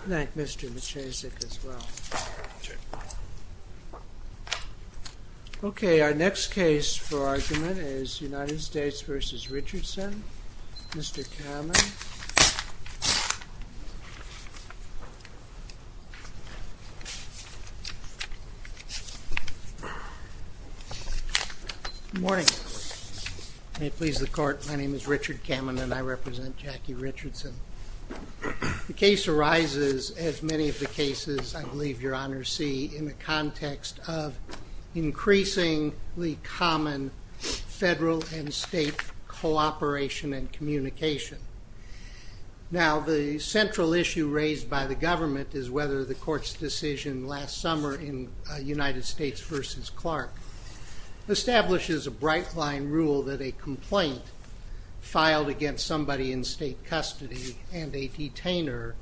Thank you, Mr. Maciasek, as well. Okay, our next case for argument is United States v. Richardson. Mr. Kamen. Good morning. May it please the court, my name is Richard Kamen and I represent Jackie Richardson. The case arises, as many of the cases I believe your honors see, in the context of increasingly common federal and state cooperation and communication. Now, the central issue raised by the government is whether the court's decision last summer in United States v. Clark establishes a bright-line rule that a complaint filed against somebody in state custody and a detainer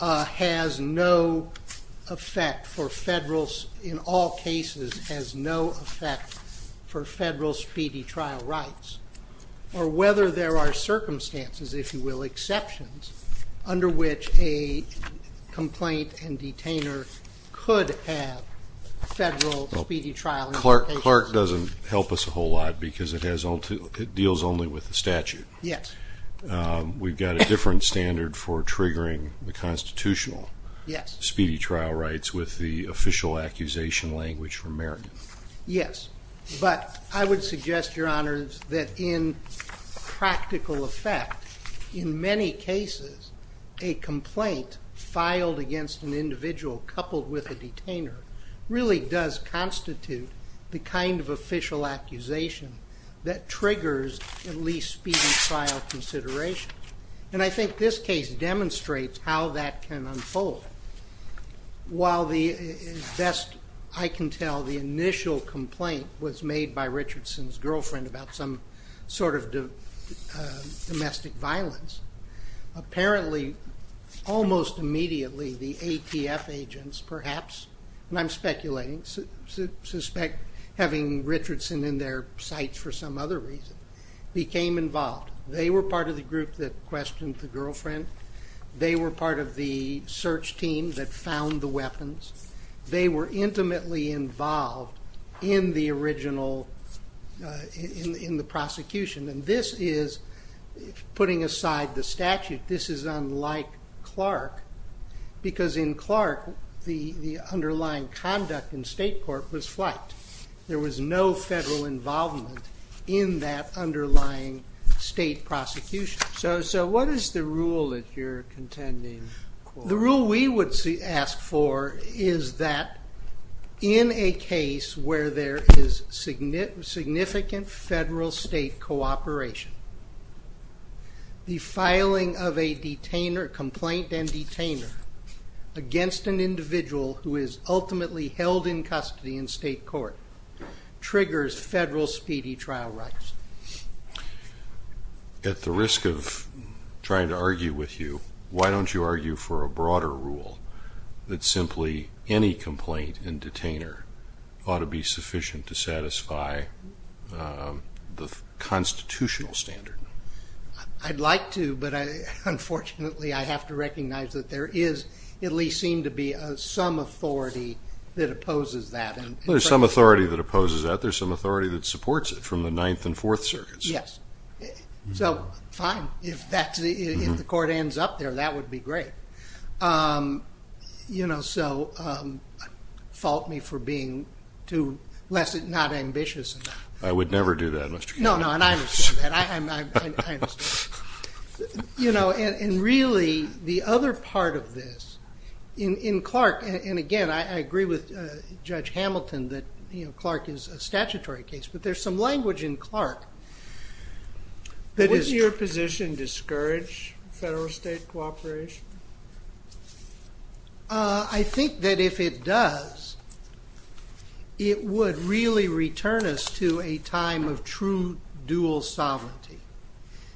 has no effect for federal, in all cases, has no effect for federal speedy trial rights, or whether there are circumstances, if you will, exceptions under which a complaint and detainer could have federal speedy trial implications. Clark doesn't help us a whole lot because it deals only with the statute. We've got a different standard for triggering the constitutional speedy trial rights with the official accusation language for merit. Yes, but I would suggest, your honors, that in practical effect, in many cases, a complaint filed against an individual coupled with a detainer really does constitute the kind of official accusation that triggers at least speedy trial consideration. And I think this case demonstrates how that can unfold. While the best I can tell, the initial complaint was made by Richardson's girlfriend about some sort of domestic violence, apparently, almost immediately, the ATF agents, perhaps, and I'm speculating, suspect having Richardson in their sights for some other reason, became involved. They were part of the group that questioned the girlfriend. They were part of the search team that found the weapons. They were intimately involved in the original, in the prosecution. And this is, putting aside the statute, this is unlike Clark because in Clark, the underlying conduct in state court was flight. There was no federal involvement in that underlying state prosecution. So what is the rule that you're contending? The rule we would ask for is that in a case where there is significant federal state cooperation, the filing of a detainer, complaint and detainer, against an individual who is ultimately held in custody in state court triggers federal speedy trial rights. At the risk of trying to argue with you, why don't you argue for a broader rule that simply any complaint and detainer ought to be sufficient to satisfy the constitutional standard? I'd like to, but unfortunately I have to recognize that there is, at least seem to be, some authority that opposes that. There's some authority that opposes that. There's some authority that supports it from the Ninth and Fourth Circuits. Yes. So, fine. If the court ends up there, that would be great. You know, so fault me for being less than not ambitious. I would never do that, Mr. Kennedy. No, no, and I understand that. I understand that. You know, and really, the other part of this, in Clark, and again, I agree with Judge Hamilton that Clark is a statutory case, but there's some language in Clark that is... I think that if it does, it would really return us to a time of true dual sovereignty.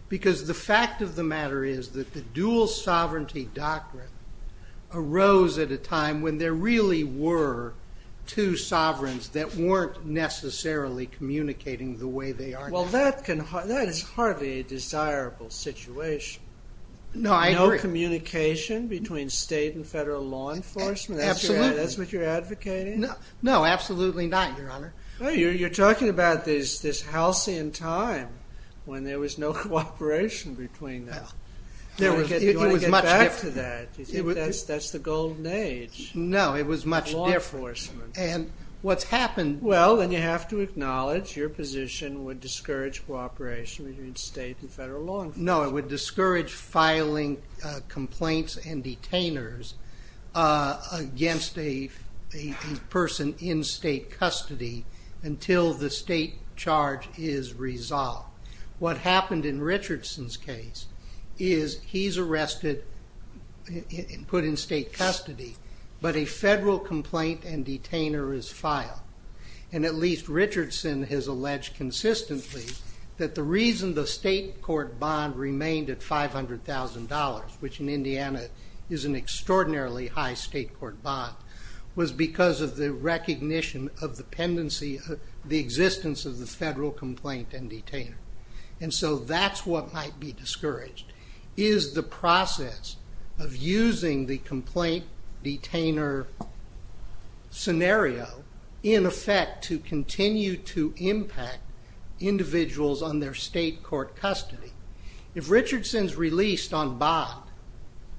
Because the fact of the matter is that the dual sovereignty doctrine arose at a time when there really were two sovereigns that weren't necessarily communicating the way they are now. Well, that is hardly a desirable situation. No, I agree. Communication between state and federal law enforcement? Absolutely. That's what you're advocating? No, absolutely not, Your Honor. You're talking about this halcyon time when there was no cooperation between them. Do you want to get back to that? Do you think that's the golden age of law enforcement? No, it was much different. And what's happened... No, it would discourage filing complaints and detainers against a person in state custody until the state charge is resolved. What happened in Richardson's case is he's arrested and put in state custody, but a federal complaint and detainer is filed. And at least Richardson has alleged consistently that the reason the state court bond remained at $500,000, which in Indiana is an extraordinarily high state court bond, was because of the recognition of the existence of the federal complaint and detainer. And so that's what might be discouraged, is the process of using the complaint detainer scenario in effect to continue to impact individuals on their state court custody. If Richardson's released on bond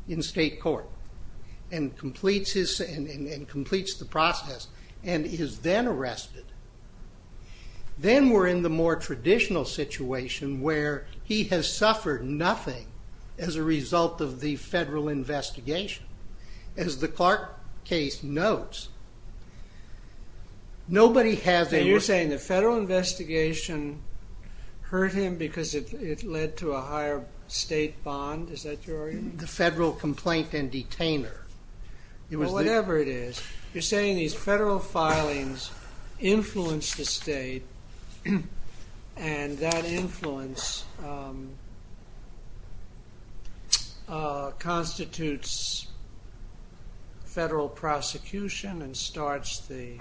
in state court and completes the process and is then arrested, then we're in the more traditional situation where he has suffered nothing as a result of the federal investigation. As the Clark case notes, nobody has ever... So you're saying the federal investigation hurt him because it led to a higher state bond, is that your argument? The federal complaint and detainer. Whatever it is, you're saying these federal filings influenced the state, and that influence constitutes federal prosecution and starts the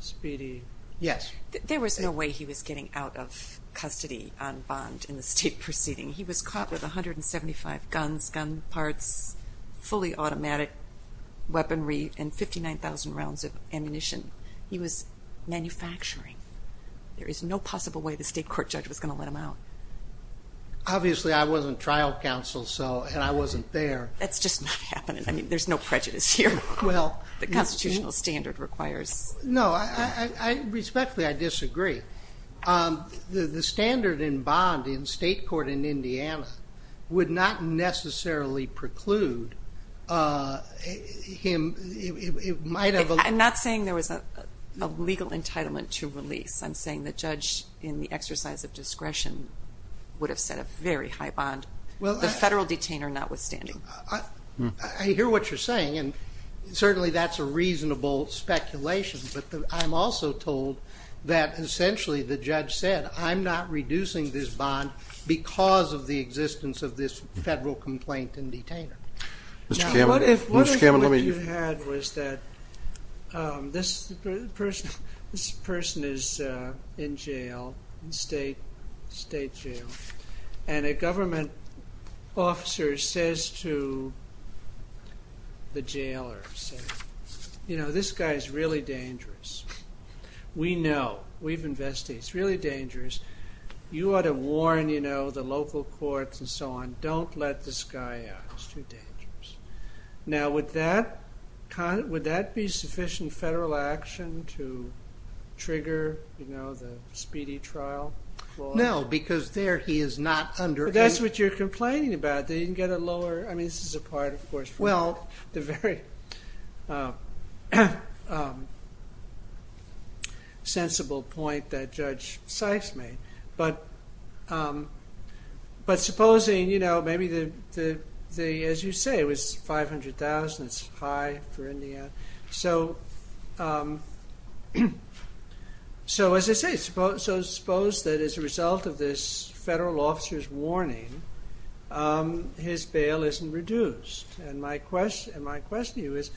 speedy... Yes. There was no way he was getting out of custody on bond in the state proceeding. He was caught with 175 guns, gun parts, fully automatic weaponry, and 59,000 rounds of ammunition. He was manufacturing. There is no possible way the state court judge was going to let him out. Obviously, I wasn't trial counsel, and I wasn't there. That's just not happening. I mean, there's no prejudice here. The constitutional standard requires... No, respectfully, I disagree. The standard in bond in state court in Indiana would not necessarily preclude him. It might have... I'm not saying there was a legal entitlement to release. I'm saying the judge in the exercise of discretion would have set a very high bond, the federal detainer notwithstanding. I hear what you're saying, and certainly that's a reasonable speculation, but I'm also told that essentially the judge said, I'm not reducing this bond because of the existence of this federal complaint and detainer. Now, what if what you had was that this person is in jail, state jail, and a government officer says to the jailer, say, you know, this guy is really dangerous. We know. We've investigated. He's really dangerous. You ought to warn the local courts and so on. Don't let this guy out. He's too dangerous. Now, would that be sufficient federal action to trigger the speedy trial? No, because there he is not under any... That's what you're complaining about. They didn't get a lower... I mean, this is a part, of course... Well, the very sensible point that Judge Sykes made, but supposing, you know, maybe the, as you say, it was $500,000. It's high for Indiana. So, as I say, suppose that as a result of this federal officer's warning, his bail isn't reduced. And my question to you is,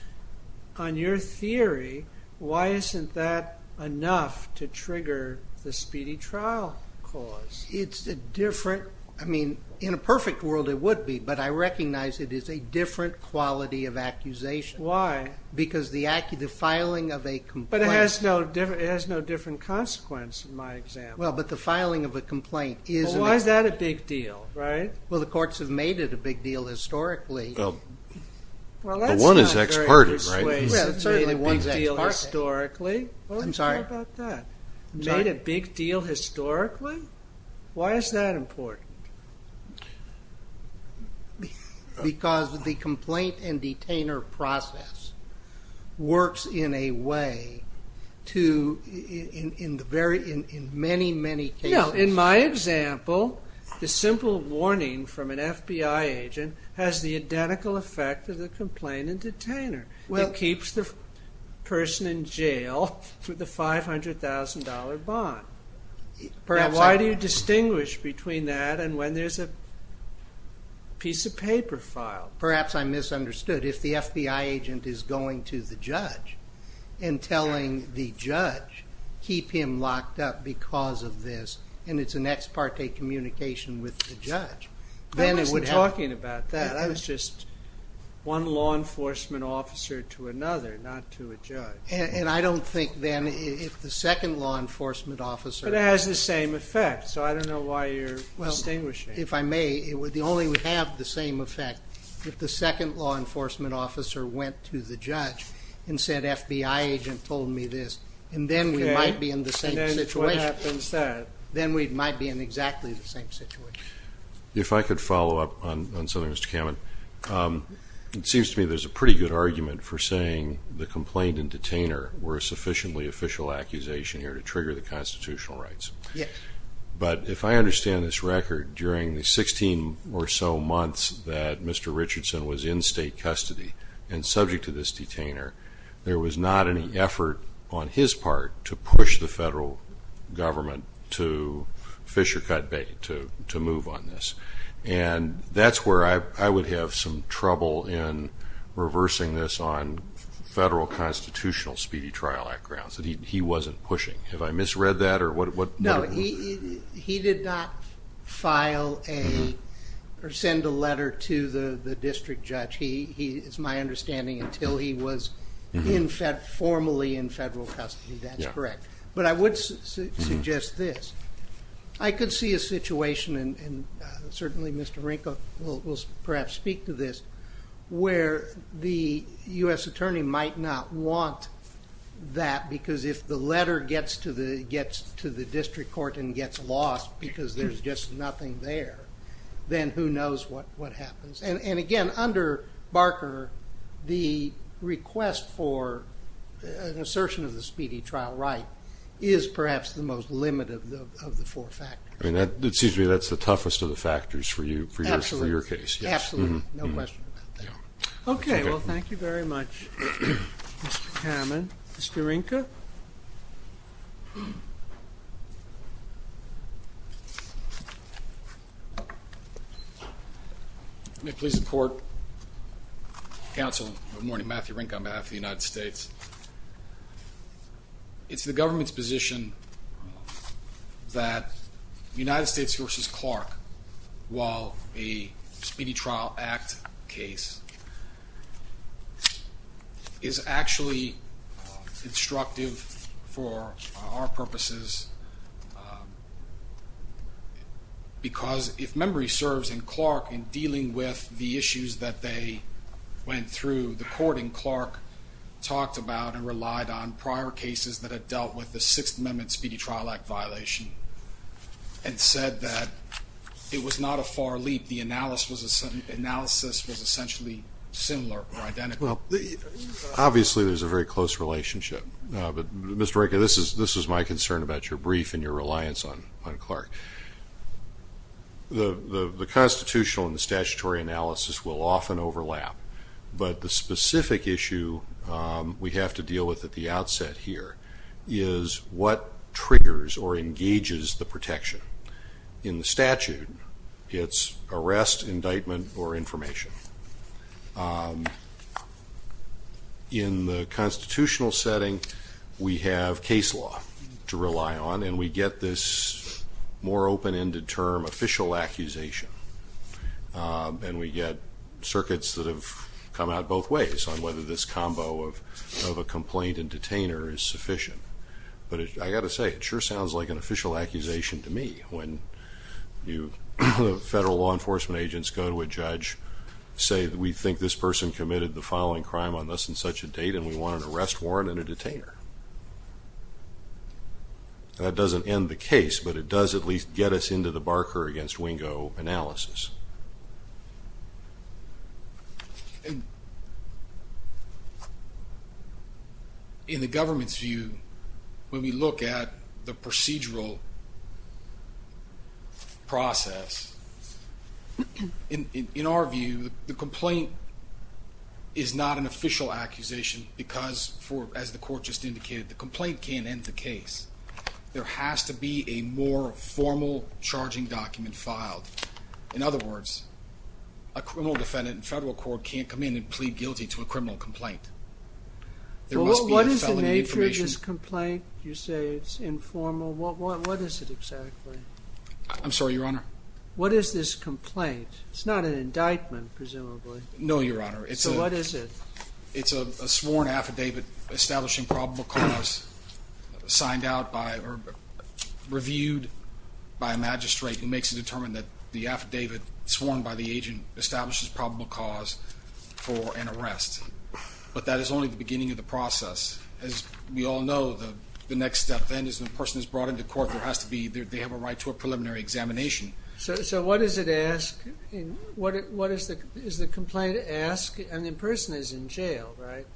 on your theory, why isn't that enough to trigger the speedy trial cause? It's a different... I mean, in a perfect world it would be, but I recognize it is a different quality of accusation. Why? Because the filing of a complaint... But it has no different consequence in my example. Well, but the filing of a complaint is... Why is that a big deal, right? Well, the courts have made it a big deal historically. Well, that's not very persuasive. Well, that's not very persuasive. Well, it certainly wasn't a big deal historically. I'm sorry. Well, how about that? Made a big deal historically? Why is that important? Because the complaint and detainer process works in a way to, in many, many cases... You know, in my example, the simple warning from an FBI agent has the identical effect of the complaint and detainer. It keeps the person in jail for the $500,000 bond. Why do you distinguish between that and when there's a piece of paper filed? Perhaps I misunderstood. If the FBI agent is going to the judge and telling the judge, keep him locked up because of this, and it's an ex parte communication with the judge, then it would have... I wasn't talking about that. That was just one law enforcement officer to another, not to a judge. And I don't think then if the second law enforcement officer... But it has the same effect, so I don't know why you're distinguishing. Well, if I may, it would only have the same effect if the second law enforcement officer went to the judge and said, FBI agent told me this, and then we might be in the same situation. Then what happens then? Then we might be in exactly the same situation. If I could follow up on something, Mr. Kamen. It seems to me there's a pretty good argument for saying the complaint and detainer were a sufficiently official accusation here to trigger the constitutional rights. Yes. But if I understand this record, during the 16 or so months that Mr. Richardson was in state custody and subject to this detainer, there was not any effort on his part to push the federal government to fish or cut bait, to move on this. And that's where I would have some trouble in reversing this on federal constitutional speedy trial grounds, that he wasn't pushing. Have I misread that? No. He did not file a... or send a letter to the district judge. It's my understanding until he was formally in federal custody. That's correct. But I would suggest this. I could see a situation, and certainly Mr. Renko will perhaps speak to this, where the U.S. attorney might not want that because if the letter gets to the district court and gets lost because there's just nothing there, then who knows what happens. And again, under Barker, the request for an assertion of the speedy trial right is perhaps the most limited of the four factors. Excuse me. That's the toughest of the factors for your case. Absolutely. No question about that. Okay. Well, thank you very much, Mr. Kamen. Mr. Renko? May it please the court, counsel, good morning, Matthew Renko on behalf of the United States. It's the government's position that United States v. Clark, is actually instructive of the United States and instructive for our purposes because if memory serves, in Clark, in dealing with the issues that they went through, the court in Clark talked about and relied on prior cases that had dealt with the Sixth Amendment Speedy Trial Act violation The analysis was essentially similar or identical. Obviously, there's a very close relationship, but Mr. Renko, this is my concern about your brief and your reliance on Clark. The constitutional and the statutory analysis will often overlap, but the specific issue we have to deal with at the outset here is what triggers or engages the protection. In the statute, it's arrest, indictment, or information. In the constitutional setting, we have case law to rely on and we get this more open-ended term official accusation and we get circuits that have come out both ways on whether this combo of a complaint and detainer is sufficient. But I've got to say, it sure sounds like an official accusation to me when federal law enforcement agents go to a judge and say we think this person committed the following crime on less than such a date and we want an arrest warrant and a detainer. That doesn't end the case, but it does at least get us into the Barker against Wingo analysis. In the government's view, when we look at the procedural process, in our view, the complaint is not an official accusation because, as the court just indicated, the complaint can't end the case. There has to be a more formal charging document filed. In other words, a criminal defendant in federal court can't come in and plead guilty to a criminal complaint. What is the nature of this complaint? You say it's informal. What is it exactly? I'm sorry, Your Honor. What is this complaint? It's not an indictment, presumably. No, Your Honor. So what is it? It's a sworn affidavit establishing probable cause reviewed by a magistrate who makes it determined that the affidavit sworn by the agent establishes probable cause for an arrest. But that is only the beginning of the process. As we all know, the next step then is when a person is brought into court they have a right to a preliminary examination. So what does it ask? What does the complaint ask? And the person is in jail, right?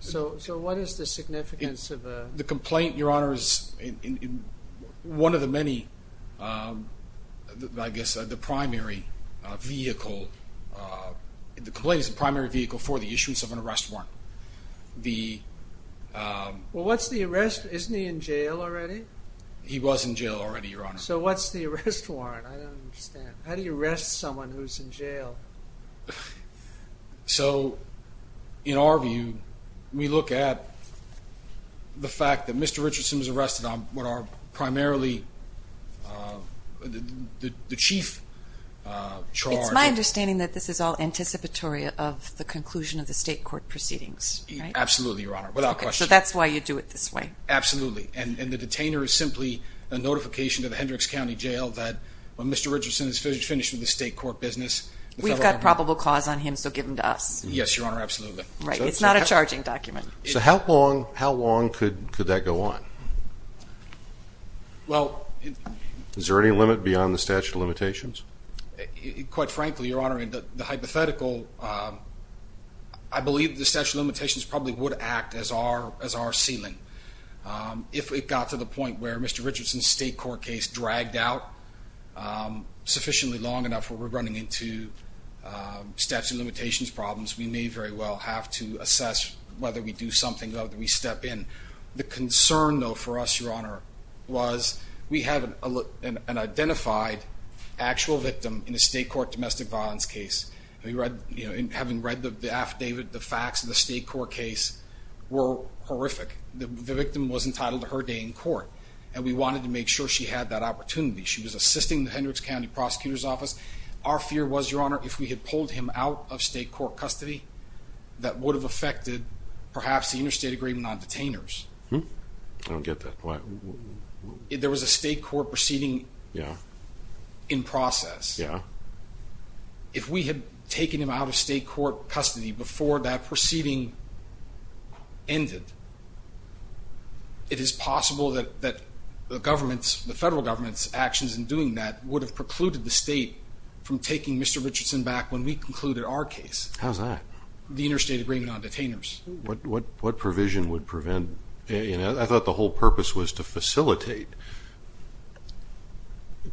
So what is the significance of a... The complaint, Your Honor, is one of the many, I guess, the primary vehicle the complaint is the primary vehicle for the issuance of an arrest warrant. The... Well, what's the arrest? Isn't he in jail already? He was in jail already, Your Honor. So what's the arrest warrant? I don't understand. How do you arrest someone who's in jail? So, in our view, we look at the fact that Mr. Richardson was arrested on what are primarily the chief charge. It's my understanding that this is all anticipatory of the conclusion of the state court proceedings. Absolutely, Your Honor, without question. So that's why you do it this way. Absolutely, and the detainer is simply a notification to the Hendricks County Jail that when Mr. Richardson is finished with the state court business... We've got probable cause on him, so give him to us. Yes, Your Honor, absolutely. Right, it's not a charging document. So how long could that go on? Well... Is there any limit beyond the statute of limitations? Quite frankly, Your Honor, the hypothetical, I believe the statute of limitations probably would act as our sealant. If it got to the point where Mr. Richardson's state court case dragged out sufficiently long enough where we're running into statute of limitations problems, we may very well have to assess whether we do something, whether we step in. The concern, though, for us, Your Honor, an identified actual victim in a state court domestic violence case. Having read the affidavit, the facts of the state court case were horrific. The victim was entitled to her day in court, and we wanted to make sure she had that opportunity. She was assisting the Hendricks County Prosecutor's Office. Our fear was, Your Honor, if we had pulled him out of state court custody, that would have affected, perhaps, the interstate agreement on detainers. I don't get that. There was a state court proceeding in process. Yeah. If we had taken him out of state court custody before that proceeding ended, it is possible that the federal government's actions in doing that would have precluded the state from taking Mr. Richardson back when we concluded our case. How's that? The interstate agreement on detainers. What provision would prevent... I thought the whole purpose was to facilitate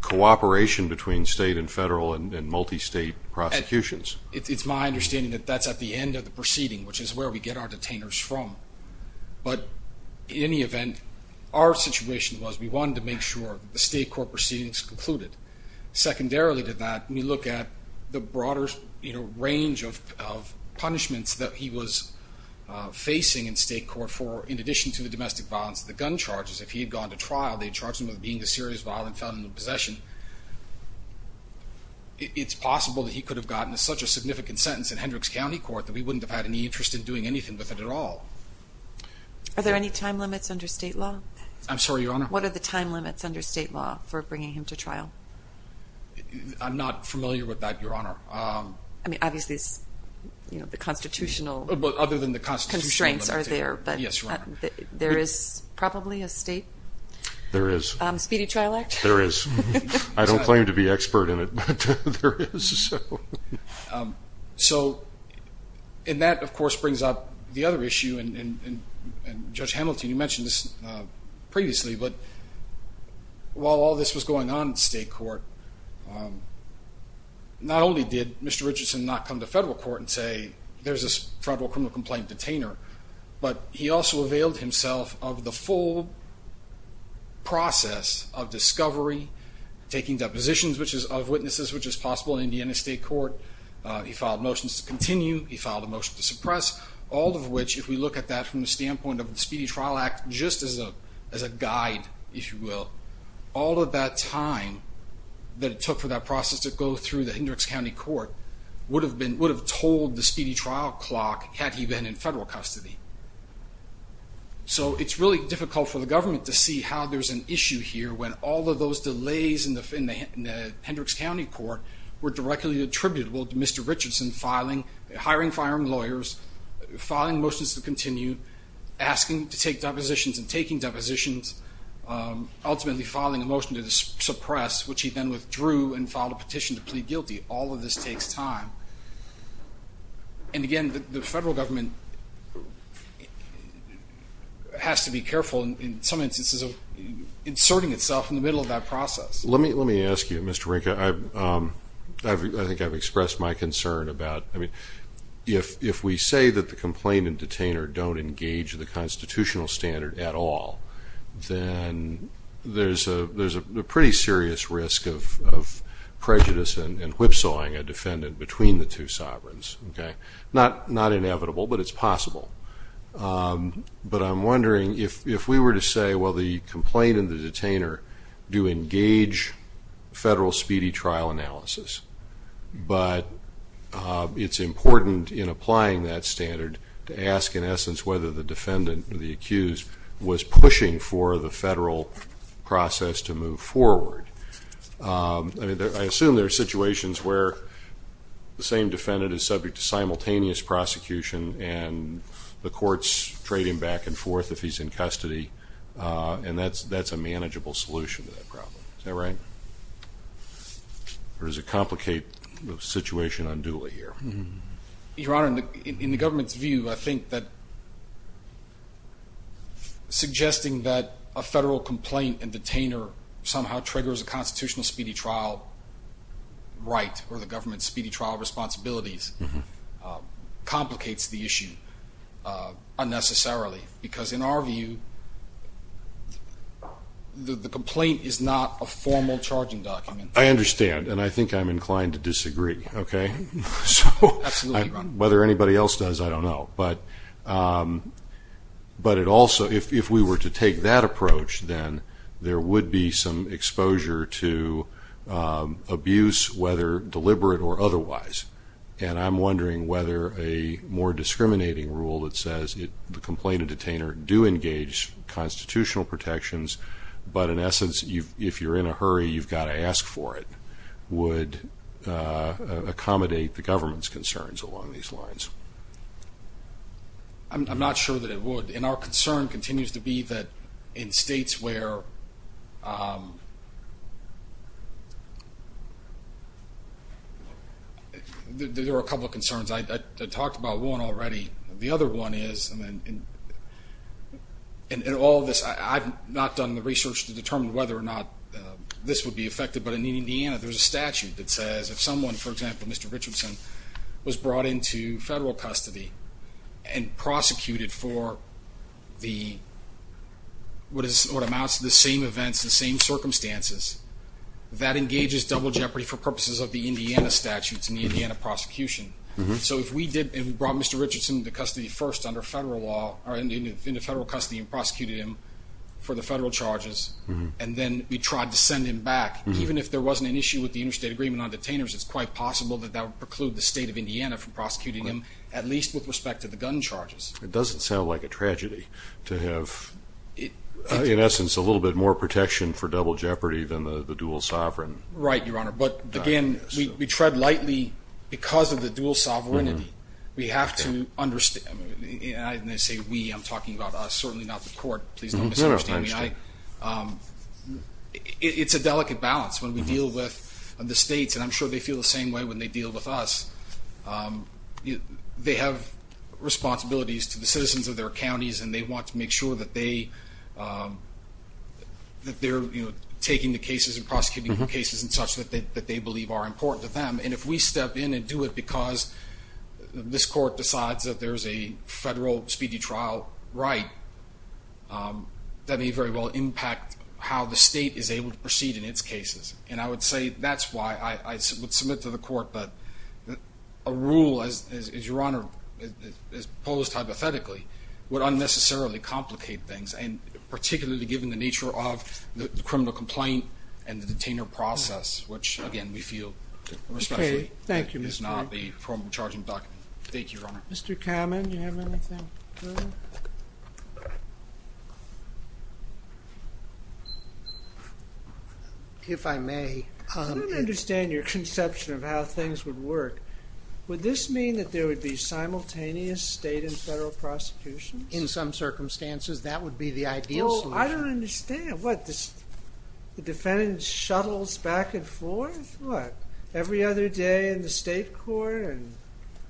cooperation between state and federal and multi-state prosecutions. It's my understanding that that's at the end of the proceeding, which is where we get our detainers from. But, in any event, our situation was we wanted to make sure the state court proceedings concluded. Secondarily to that, we look at the broader range of punishments that he was facing in state court for, in addition to the domestic violence, the gun charges. If he had gone to trial, they charged him with being a serious violent felon in possession. It's possible that he could have gotten such a significant sentence in Hendricks County Court that we wouldn't have had any interest in doing anything with it at all. Are there any time limits under state law? I'm sorry, Your Honor? What are the time limits under state law for bringing him to trial? I'm not familiar with that, Your Honor. Obviously, the constitutional constraints are there. Yes, Your Honor. There is probably a state speedy trial act? There is. I don't claim to be expert in it, but there is. That, of course, brings up the other issue. Judge Hamilton, you mentioned this previously, but while all this was going on in state court, not only did Mr. Richardson not come to federal court and say, there's a federal criminal complaint detainer, but he also availed himself of the full process of discovery, taking depositions of witnesses, which is possible in Indiana State Court. He filed motions to continue. He filed a motion to suppress, all of which, if we look at that from the standpoint of the speedy trial act, just as a guide, if you will, all of that time that it took for that process to go through the Hendricks County Court would have told the speedy trial clock had he been in federal custody. It's really an issue here when all of those delays in the Hendricks County Court were directly attributable to Mr. Richardson hiring and firing lawyers, filing motions to continue, asking to take depositions and taking depositions, ultimately filing a motion to suppress, which he then withdrew and filed a petition to plead guilty. All of this takes time. And again, the federal government has to be careful in some instances of inserting itself in the middle of that process. Let me ask you, Mr. Rinke. I think I've expressed my concern about, I mean, if we say that the complaint and detainer don't engage the constitutional standard at all, then there's a pretty serious risk of prejudice and whipsawing a defendant between the two sovereigns. Not inevitable, but it's possible. But I'm wondering if we were to say, well, the complaint and the detainer do engage federal speedy trial analysis, but it's important in applying that standard to ask, in essence, whether the defendant or the accused was pushing for the federal process to move forward. I assume there are situations where the same defendant is subject to simultaneous prosecution and the courts trade him back and forth if he's in custody, and that's a manageable solution to that problem. Is that right? Or does it complicate the situation unduly here? Your Honor, in the government's view, I think that suggesting that a federal complaint and detainer somehow triggers a constitutional speedy trial right, or the government's speedy trial responsibilities complicates the issue unnecessarily because, in our view, the complaint is not a formal charging document. I understand, and I think I'm inclined to disagree. Whether anybody else does, I don't know. But it also, if we were to take that approach, then there would be some exposure to abuse, whether deliberate or otherwise. And I'm wondering whether a more discriminating rule that says the complaint and detainer do engage constitutional protections, but in essence, if you're in a hurry, you've got to ask for it, would accommodate the government's concerns along these lines? I'm not sure that it would. And our concern continues to be that in states where there are a couple of concerns. I talked about one already. The other one is, in all this, I've not done the research to determine whether or not this would be effective, but in Indiana, there's a statute that says if someone, for example, Mr. Richardson, was brought into federal custody and prosecuted for what amounts to the same events, the same circumstances, that engages double jeopardy for purposes of the Indiana statutes and the Indiana prosecution. So if we did, and we brought Mr. Richardson into custody first under federal law, or into federal custody and prosecuted him for the federal charges, and then we tried to send him back, even if there wasn't an issue with the interstate agreement on detainers, it's quite possible that that would preclude the state of Indiana from prosecuting him, at least with respect to the gun charges. It doesn't sound like a tragedy to have, in essence, a little bit more protection for double jeopardy than the dual sovereign. Right, Your Honor, but again, we tread lightly because of the dual sovereignty. We have to understand and when I say we, I'm talking about us, certainly not the court. Please don't misunderstand me. It's a delicate balance when we deal with the states, and I'm sure they feel the same way when they deal with us. They have responsibilities to the citizens of their counties, and they want to make sure that they that they're taking the cases and prosecuting the cases and such that they believe are important to them, and if we step in and do it because this court decides that there's a federal speedy trial right, that may very well impact how the state is able to proceed in its cases, and I would say that's why I would submit to the court that a rule, as Your Honor posed hypothetically, would unnecessarily complicate things, and particularly given the nature of the criminal complaint and the detainer process, which again, we feel respectfully is not the formal charging document. Thank you, Your Honor. Mr. Kamen, do you have anything further? If I may. I don't understand your conception of how things would work. Would this mean that there would be simultaneous state and federal prosecutions? In some circumstances that would be the ideal solution. I don't understand. The defendant shuttles back and forth? What, every other day in the state court?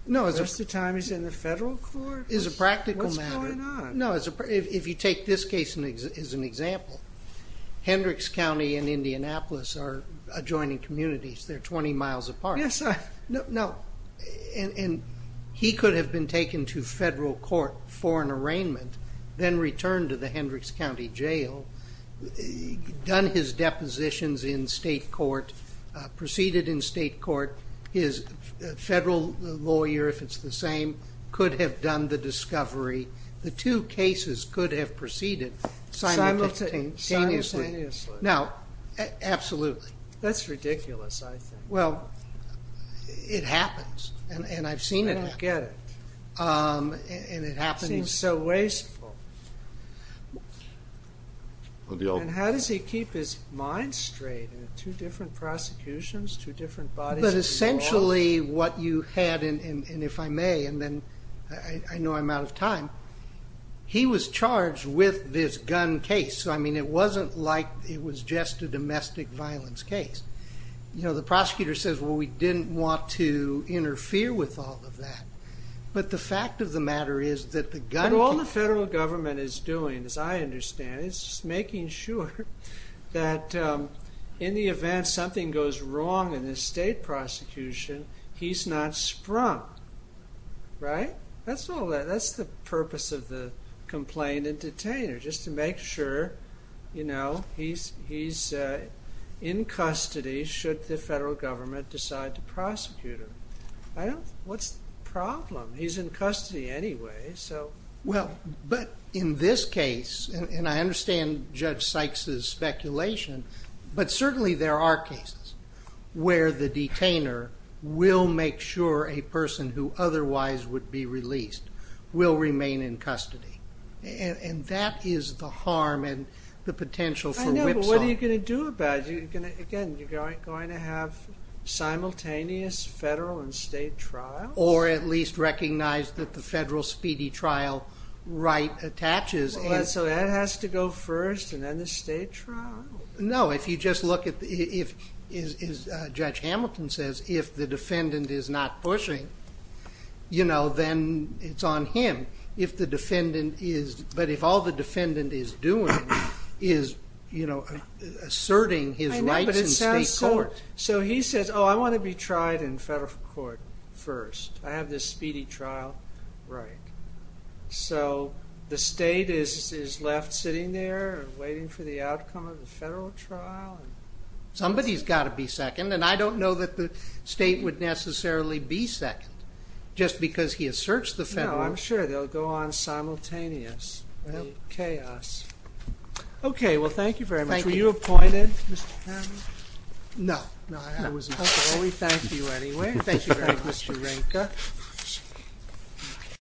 Most of the time he's in the federal court? It's a practical matter. If you take this case as an example, Hendricks County and Indianapolis are adjoining communities. They're 20 miles apart. He could have been taken to federal court for an arraignment, then returned to the Hendricks County Jail, done his depositions in state court, proceeded in state court, his federal lawyer if it's the same, could have done the discovery. The two cases could have proceeded simultaneously. Now, absolutely. That's ridiculous, I think. Well, it happens. I don't get it. It seems so wasteful. How does he keep his mind straight in two different prosecutions, two different bodies of law? But essentially what you had, and if I may, and I know I'm out of time, he was charged with this gun case. It wasn't like it was just a domestic violence case. The prosecutor says, well, we didn't want to interfere with all of that. But the fact of the matter is that the gun case... But all the federal government is doing, as I understand it, is making sure that in the event something goes wrong in the state prosecution, he's not sprung. Right? That's all that, that's the purpose of the complaint and detainer, just to make sure he's in custody should the federal government decide to prosecute him. What's the problem? He's in custody anyway, so... But in this case, and I understand Judge Sykes' speculation, but certainly there are cases where the detainer will make sure a person who otherwise would be released will remain in custody. And that is the harm and the potential for whipsaw. But what are you going to do about it? Again, you're going to have simultaneous federal and state trials? Or at least recognize that the federal speedy trial right attaches. So that has to go first, and then the state trial? No, if you just look at... Judge Hamilton says, if the defendant is not pushing, you know, then it's on him. If the defendant is... But if all the defendant is doing is, you know, asserting his rights in state court. So he says, oh, I want to be tried in federal court first. I have this speedy trial right. So the state is left sitting there, waiting for the outcome of the federal trial. Somebody's got to be second, and I don't know that the state would necessarily be second. Just because he asserts the federal... No, I'm sure they'll go on simultaneous. Well, chaos. Okay, well, thank you very much. Thank you. Were you appointed, Mr. Hamilton? No, I wasn't. Well, we thank you anyway. Thank you very much, Mr. Renka.